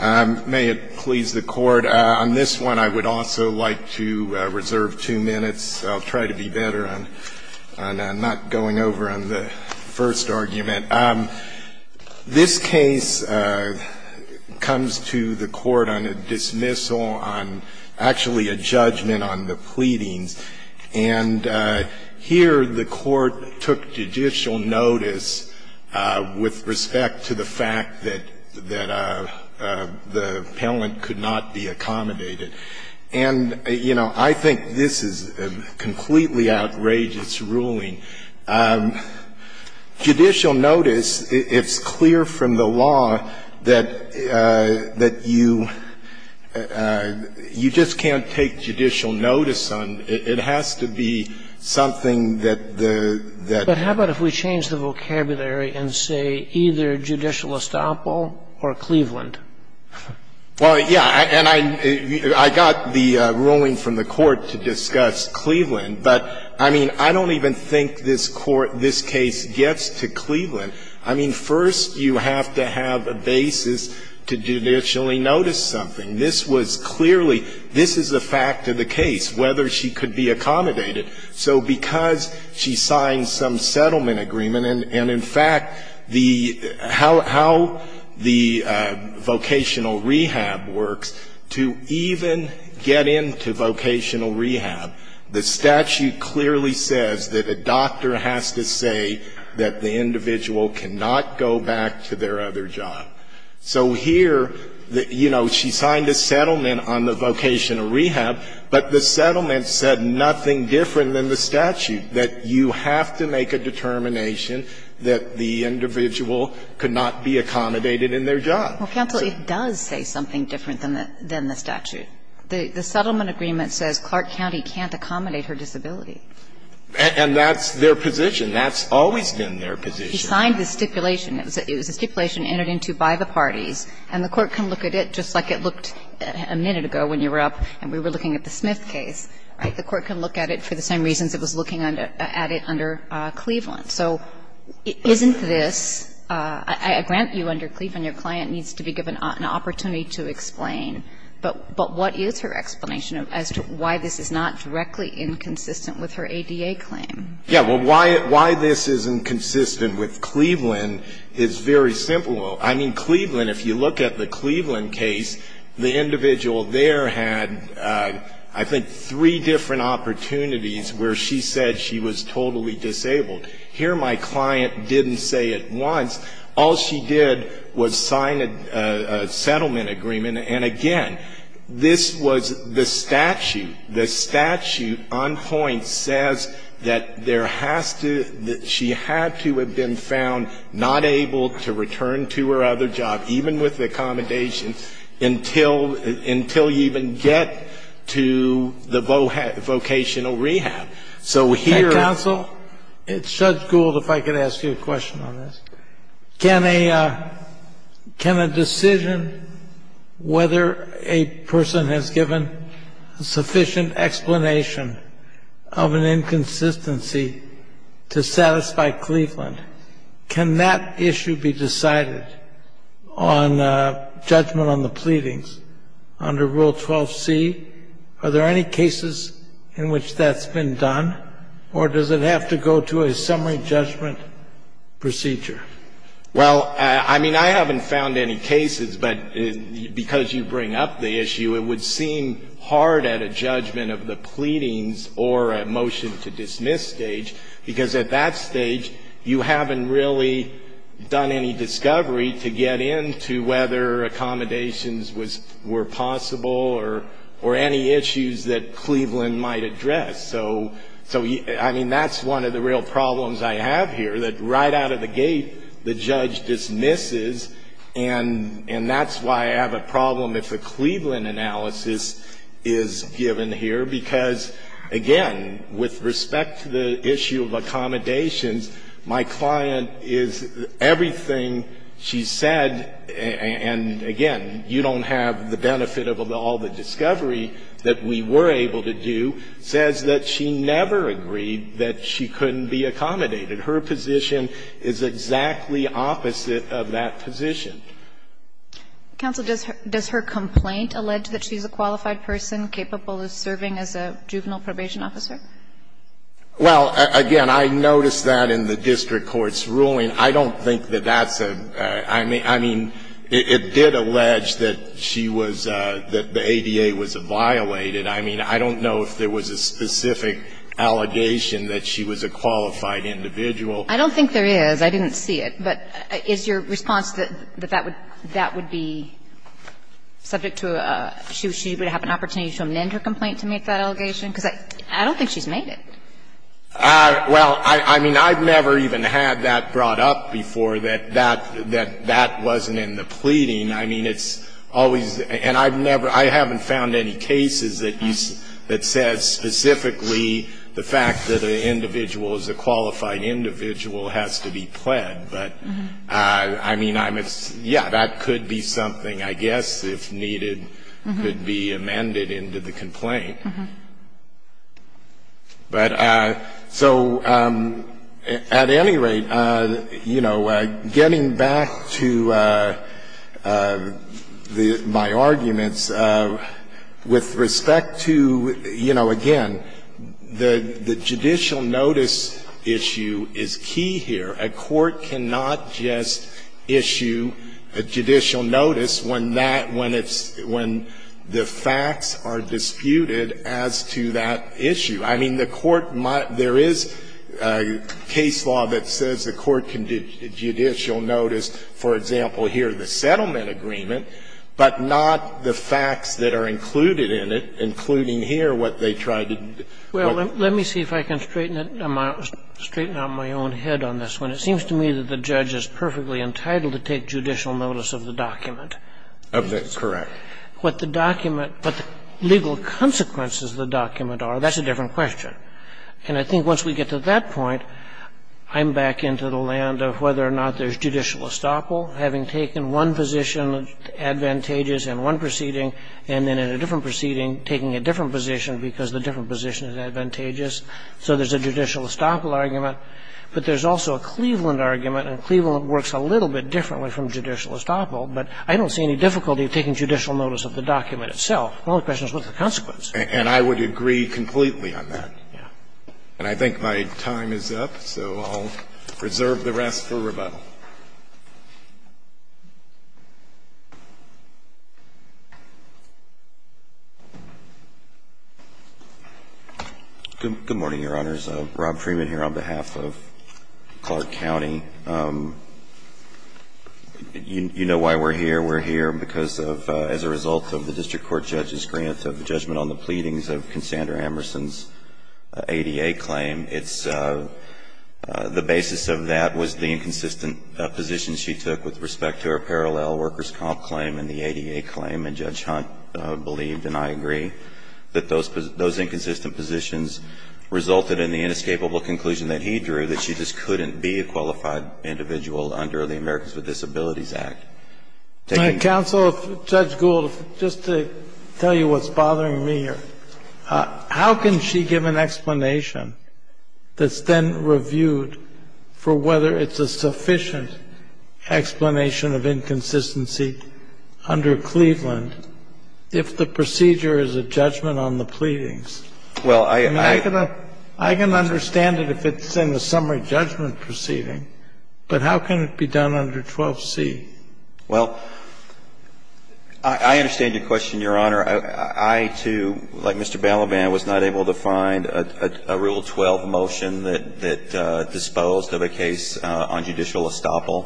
May it please the Court. On this one, I would also like to reserve two minutes. I'll try to be better on not going over on the first argument. This case comes to the Court on a dismissal, on actually a judgment on the pleadings. And here the Court took judicial notice with respect to the fact that the appellant could not be accommodated. And, you know, I think this is a completely outrageous ruling. Judicial notice, it's clear from the law that you just can't take judicial notice on. It has to be something that the that But how about if we change the vocabulary and say either judicial estoppel or Cleveland? Well, yeah, and I got the ruling from the Court to discuss Cleveland, but I mean, I don't even think this Court, this case gets to Cleveland. I mean, first you have to have a basis to judicially notice something. This was clearly, this is a fact of the case, whether she could be accommodated. So because she signed some settlement agreement, and in fact, the how the vocational rehab works, to even get into vocational rehab, the statute clearly says that a doctor has to say that the individual cannot go back to their other job. So here, you know, she signed a settlement on the vocational rehab, but the settlement said nothing different than the statute, that you have to make a determination that the individual could not be accommodated in their job. Well, counsel, it does say something different than the statute. The settlement agreement says Clark County can't accommodate her disability. And that's their position. That's always been their position. She signed the stipulation. It was a stipulation entered into by the parties, and the Court can look at it just like it looked a minute ago when you were up and we were looking at the Smith case. The Court can look at it for the same reasons it was looking at it under Cleveland. So isn't this – I grant you under Cleveland, your client needs to be given an opportunity to explain, but what is her explanation as to why this is not directly inconsistent with her ADA claim? Yeah, well, why this isn't consistent with Cleveland is very simple. I mean, Cleveland, if you look at the Cleveland case, the individual there had, I think, three different opportunities where she said she was totally disabled. Here, my client didn't say it once. All she did was sign a settlement agreement. And again, this was the statute. The statute, on point, says that there has to – that she had to have been found not able to return to her other job, even with the accommodation, until you even get to the vocational rehab. So here – Counsel, it's Judge Gould, if I could ask you a question on this. Can a – can a decision whether a person has given a sufficient explanation of an inconsistency to satisfy Cleveland, can that issue be decided on judgment on the pleadings under Rule 12c? Are there any cases in which that's been done, or does it have to go to a summary judgment procedure? Well, I mean, I haven't found any cases. But because you bring up the issue, it would seem hard at a judgment of the pleadings or a motion to dismiss stage, because at that stage, you haven't really done any discovery to get into whether accommodations was – were possible or any issues that Cleveland might address. So – so, I mean, that's one of the real problems I have here, that right out of the gate, the judge dismisses. And – and that's why I have a problem if a Cleveland analysis is given here, because, again, with respect to the issue of accommodations, my client is – everything she said – and, again, you don't have the benefit of all the discovery that we were able to do – says that she never agreed that she couldn't be accommodated. Her position is exactly opposite of that position. Counsel, does her – does her complaint allege that she's a qualified person capable of serving as a juvenile probation officer? Well, again, I noticed that in the district court's ruling. I don't think that that's a – I mean – I mean, it did allege that she was – that the ADA was violated. I mean, I don't know if there was a specific allegation that she was a qualified individual. I don't think there is. I didn't see it. But is your response that that would – that would be subject to a – she would have an opportunity to amend her complaint to make that allegation? Because I don't think she's made it. Well, I mean, I've never even had that brought up before, that that – that that wasn't in the pleading. I mean, it's always – and I've never – I haven't found any cases that you – that says specifically the fact that an individual is a qualified individual has to be pled. But, I mean, I'm – yeah, that could be something, I guess, if needed, could be amended into the complaint. But so, at any rate, you know, getting back to my arguments, with respect to, you know, again, the judicial notice issue is key here. A court cannot just issue a judicial notice when that – when it's – when the facts are disputed as to that issue. I mean, the court – there is case law that says the court can do judicial notice, for example, here, the settlement agreement, but not the facts that are included in it, including here what they tried to – Well, let me see if I can straighten it – straighten out my own head on this one. It seems to me that the judge is perfectly entitled to take judicial notice of the document. Of the – correct. But what the document – what the legal consequences of the document are, that's a different question. And I think once we get to that point, I'm back into the land of whether or not there's judicial estoppel, having taken one position advantageous in one proceeding and then in a different proceeding taking a different position because the different position is advantageous. So there's a judicial estoppel argument. But there's also a Cleveland argument, and Cleveland works a little bit differently from judicial estoppel. But I don't see any difficulty of taking judicial notice of the document itself. The only question is what's the consequence. And I would agree completely on that. Yeah. And I think my time is up, so I'll reserve the rest for rebuttal. Good morning, Your Honors. Rob Freeman here on behalf of Clark County. You know why we're here. We're here because of – as a result of the district court judge's grant of judgment on the pleadings of Cassandra Emerson's ADA claim. It's – the basis of that was the inconsistent position she took with respect to her parallel workers' comp claim and the ADA claim. And Judge Hunt believed, and I agree, that those inconsistent positions resulted in the inescapable conclusion that he drew, that she just couldn't be a qualified individual under the Americans with Disabilities Act. Counsel, Judge Gould, just to tell you what's bothering me here. How can she give an explanation that's then reviewed for whether it's a sufficient explanation of inconsistency under Cleveland if the procedure is a judgment on the pleadings? Well, I – I can understand it if it's in the summary judgment proceeding, but how can it be done under 12C? Well, I understand your question, Your Honor. I, too, like Mr. Balaban, was not able to find a Rule 12 motion that disposed of a case on judicial estoppel.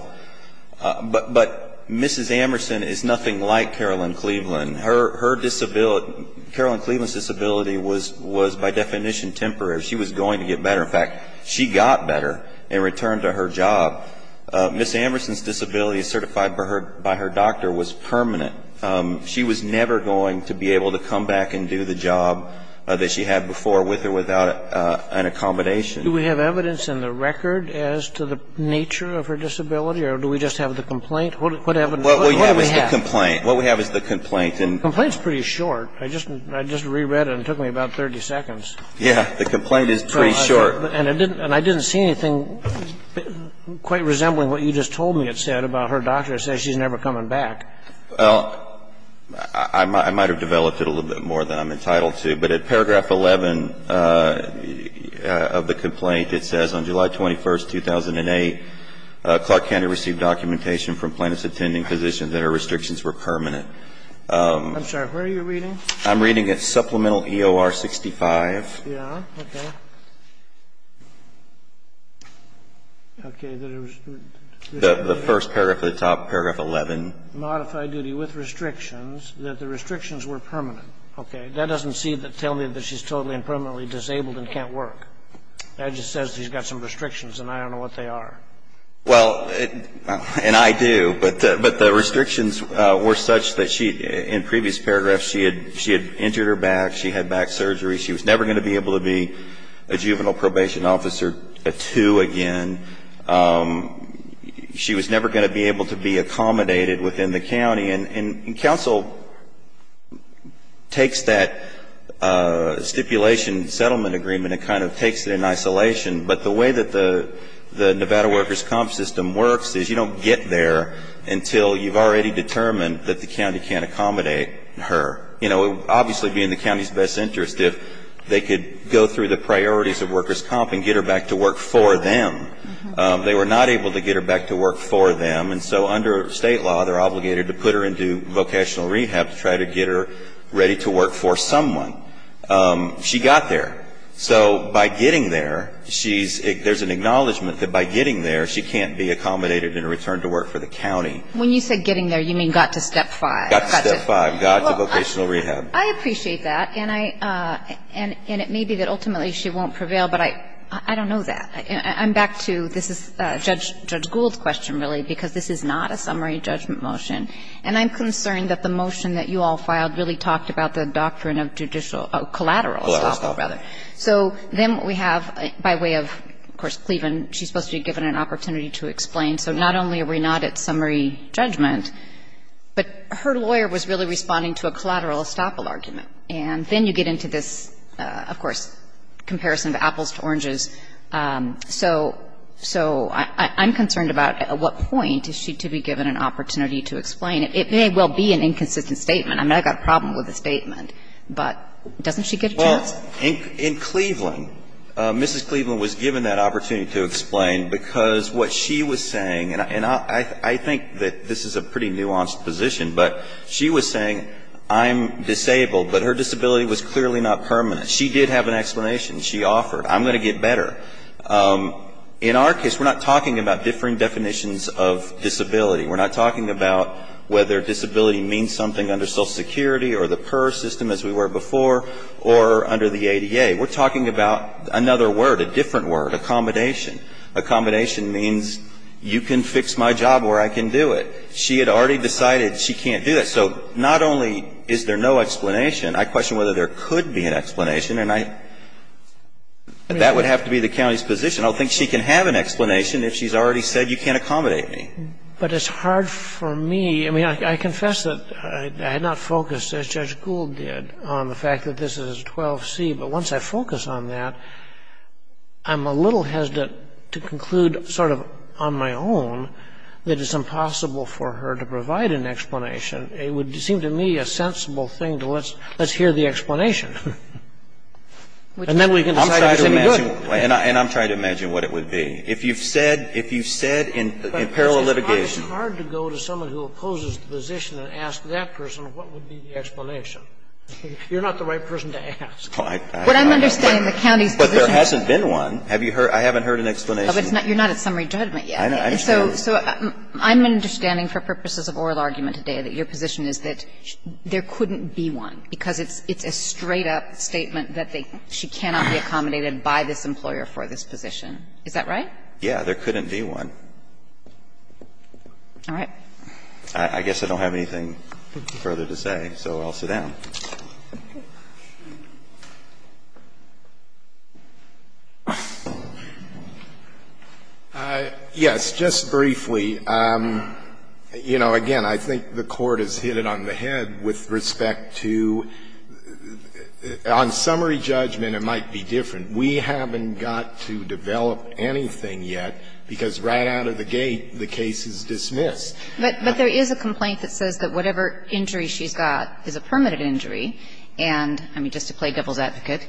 But Mrs. Emerson is nothing like Carolyn Cleveland. Her disability – Carolyn Cleveland's disability was by definition temporary. She was going to get better. In fact, she got better in return to her job. Mrs. Emerson's disability certified by her doctor was permanent. She was never going to be able to come back and do the job that she had before with or without an accommodation. Do we have evidence in the record as to the nature of her disability, or do we just have the complaint? What evidence? What do we have? What we have is the complaint. The complaint's pretty short. I just reread it and it took me about 30 seconds. Yeah. The complaint is pretty short. And it didn't – and I didn't see anything quite resembling what you just told me it said about her doctor. It said she's never coming back. Well, I might have developed it a little bit more than I'm entitled to. But at paragraph 11 of the complaint, it says, I'm sorry. Where are you reading? I'm reading at Supplemental EOR 65. Yeah. Okay. Okay. The first paragraph at the top, paragraph 11. Modify duty with restrictions that the restrictions were permanent. Okay. That doesn't tell me that she's totally and permanently disabled and can't work. Okay. Okay. Okay. Okay. Okay. Okay. Okay. Okay. Okay. Okay. Okay. Okay. Okay. Okay. Well, I don't think you have some restrictions. And I don't know what they are. Well – and I do. But the restrictions were such that she – in previous paragraphs, she had injured her back. She had back surgery. She was never going to be able to be a juvenile probation officer two again. She was never going to be able to be accommodated within the county. And counsel takes that stipulation settlement agreement and kind of takes it in isolation. But the way that the Nevada workers' comp system works is you don't get there until you've already determined that the county can't accommodate her. You know, obviously being the county's best interest, if they could go through the priorities of workers' comp and get her back to work for them. They were not able to get her back to work for them. And so under state law, they're obligated to put her into vocational rehab to try to get her ready to work for someone. She got there. So by getting there, she's – there's an acknowledgement that by getting there, she can't be accommodated and returned to work for the county. When you say getting there, you mean got to step five. Got to step five. Got to vocational rehab. Well, I appreciate that. And I – and it may be that ultimately she won't prevail, but I don't know that. I'm back to – this is Judge Gould's question, really, because this is not a summary judgment motion. And I'm concerned that the motion that you all filed really talked about the doctrine of judicial – of collateral estoppel, rather. So then we have, by way of, of course, Cleveland, she's supposed to be given an opportunity to explain. So not only are we not at summary judgment, but her lawyer was really responding to a collateral estoppel argument. And then you get into this, of course, comparison of apples to oranges. So I'm concerned about at what point is she to be given an opportunity to explain. It may well be an inconsistent statement. I mean, I've got a problem with the statement, but doesn't she get a chance? Well, in Cleveland, Mrs. Cleveland was given that opportunity to explain because what she was saying, and I think that this is a pretty nuanced position, but she was saying, I'm disabled, but her disability was clearly not permanent. She did have an explanation. She offered, I'm going to get better. In our case, we're not talking about differing definitions of disability. We're not talking about whether disability means something under Social Security or the PER system as we were before or under the ADA. We're talking about another word, a different word, accommodation. Accommodation means you can fix my job or I can do it. She had already decided she can't do that. So not only is there no explanation, I question whether there could be an explanation and I, that would have to be the county's position. I don't think she can have an explanation if she's already said you can't accommodate me. But it's hard for me. I mean, I confess that I had not focused, as Judge Gould did, on the fact that this is 12C. But once I focus on that, I'm a little hesitant to conclude sort of on my own that it's impossible for her to provide an explanation. It would seem to me a sensible thing to let's hear the explanation and then we can decide if it's any good. And I'm trying to imagine what it would be. If you've said, if you've said in parallel litigation. It's hard to go to someone who opposes the position and ask that person what would be the explanation. You're not the right person to ask. But I'm understanding the county's position. But there hasn't been one. Have you heard? I haven't heard an explanation. You're not at summary judgment yet. I understand. So I'm understanding for purposes of oral argument today that your position is that there couldn't be one, because it's a straight-up statement that she cannot be accommodated by this employer for this position. Is that right? Yeah, there couldn't be one. All right. I guess I don't have anything further to say, so I'll sit down. Yes, just briefly. You know, again, I think the Court has hit it on the head with respect to the – on summary judgment it might be different. We haven't got to develop anything yet, because right out of the gate the case is dismissed. But there is a complaint that says that whatever injury she's got is a permanent injury, and I mean, just to play devil's advocate,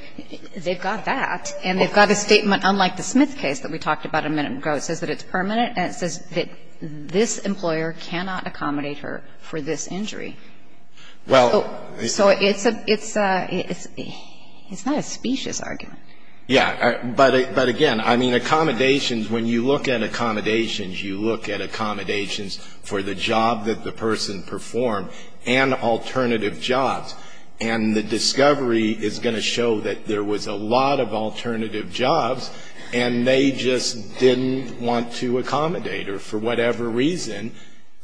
they've got that, and they've got a statement unlike the Smith case that we talked about a minute ago that says that it's permanent, and it says that this employer cannot accommodate her for this injury. Well – So it's a – it's not a specious argument. Yeah. But again, I mean, accommodations, when you look at accommodations, you look at accommodations for the job that the person performed and alternative jobs, and the discovery is going to show that there was a lot of alternative jobs, and they just didn't want to accommodate her for whatever reason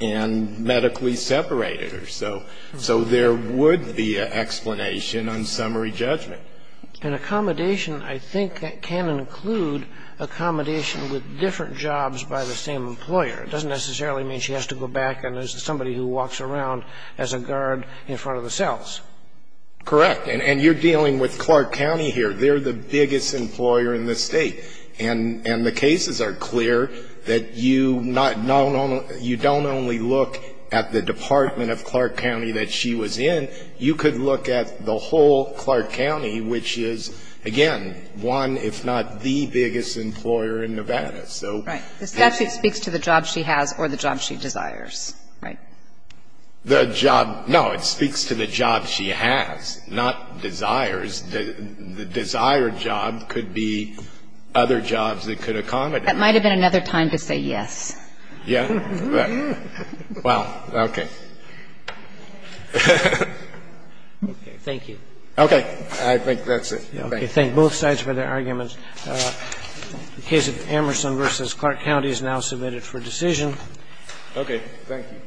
and medically separate her. So there would be an explanation on summary judgment. And accommodation, I think, can include accommodation with different jobs by the same employer. It doesn't necessarily mean she has to go back and there's somebody who walks around as a guard in front of the cells. Correct. And you're dealing with Clark County here. They're the biggest employer in the State, and the cases are clear that you not only – you don't only look at the department of Clark County that she was in. You could look at the whole Clark County, which is, again, one, if not the biggest employer in Nevada. So – Right. The statute speaks to the job she has or the job she desires, right? The job – no, it speaks to the job she has, not desires. The desired job could be other jobs that could accommodate her. That might have been another time to say yes. Yeah. Wow. Okay. Okay. Thank you. Okay. I think that's it. Thank you. Thank both sides for their arguments. The case of Amerson v. Clark County is now submitted for decision. Okay. Thank you.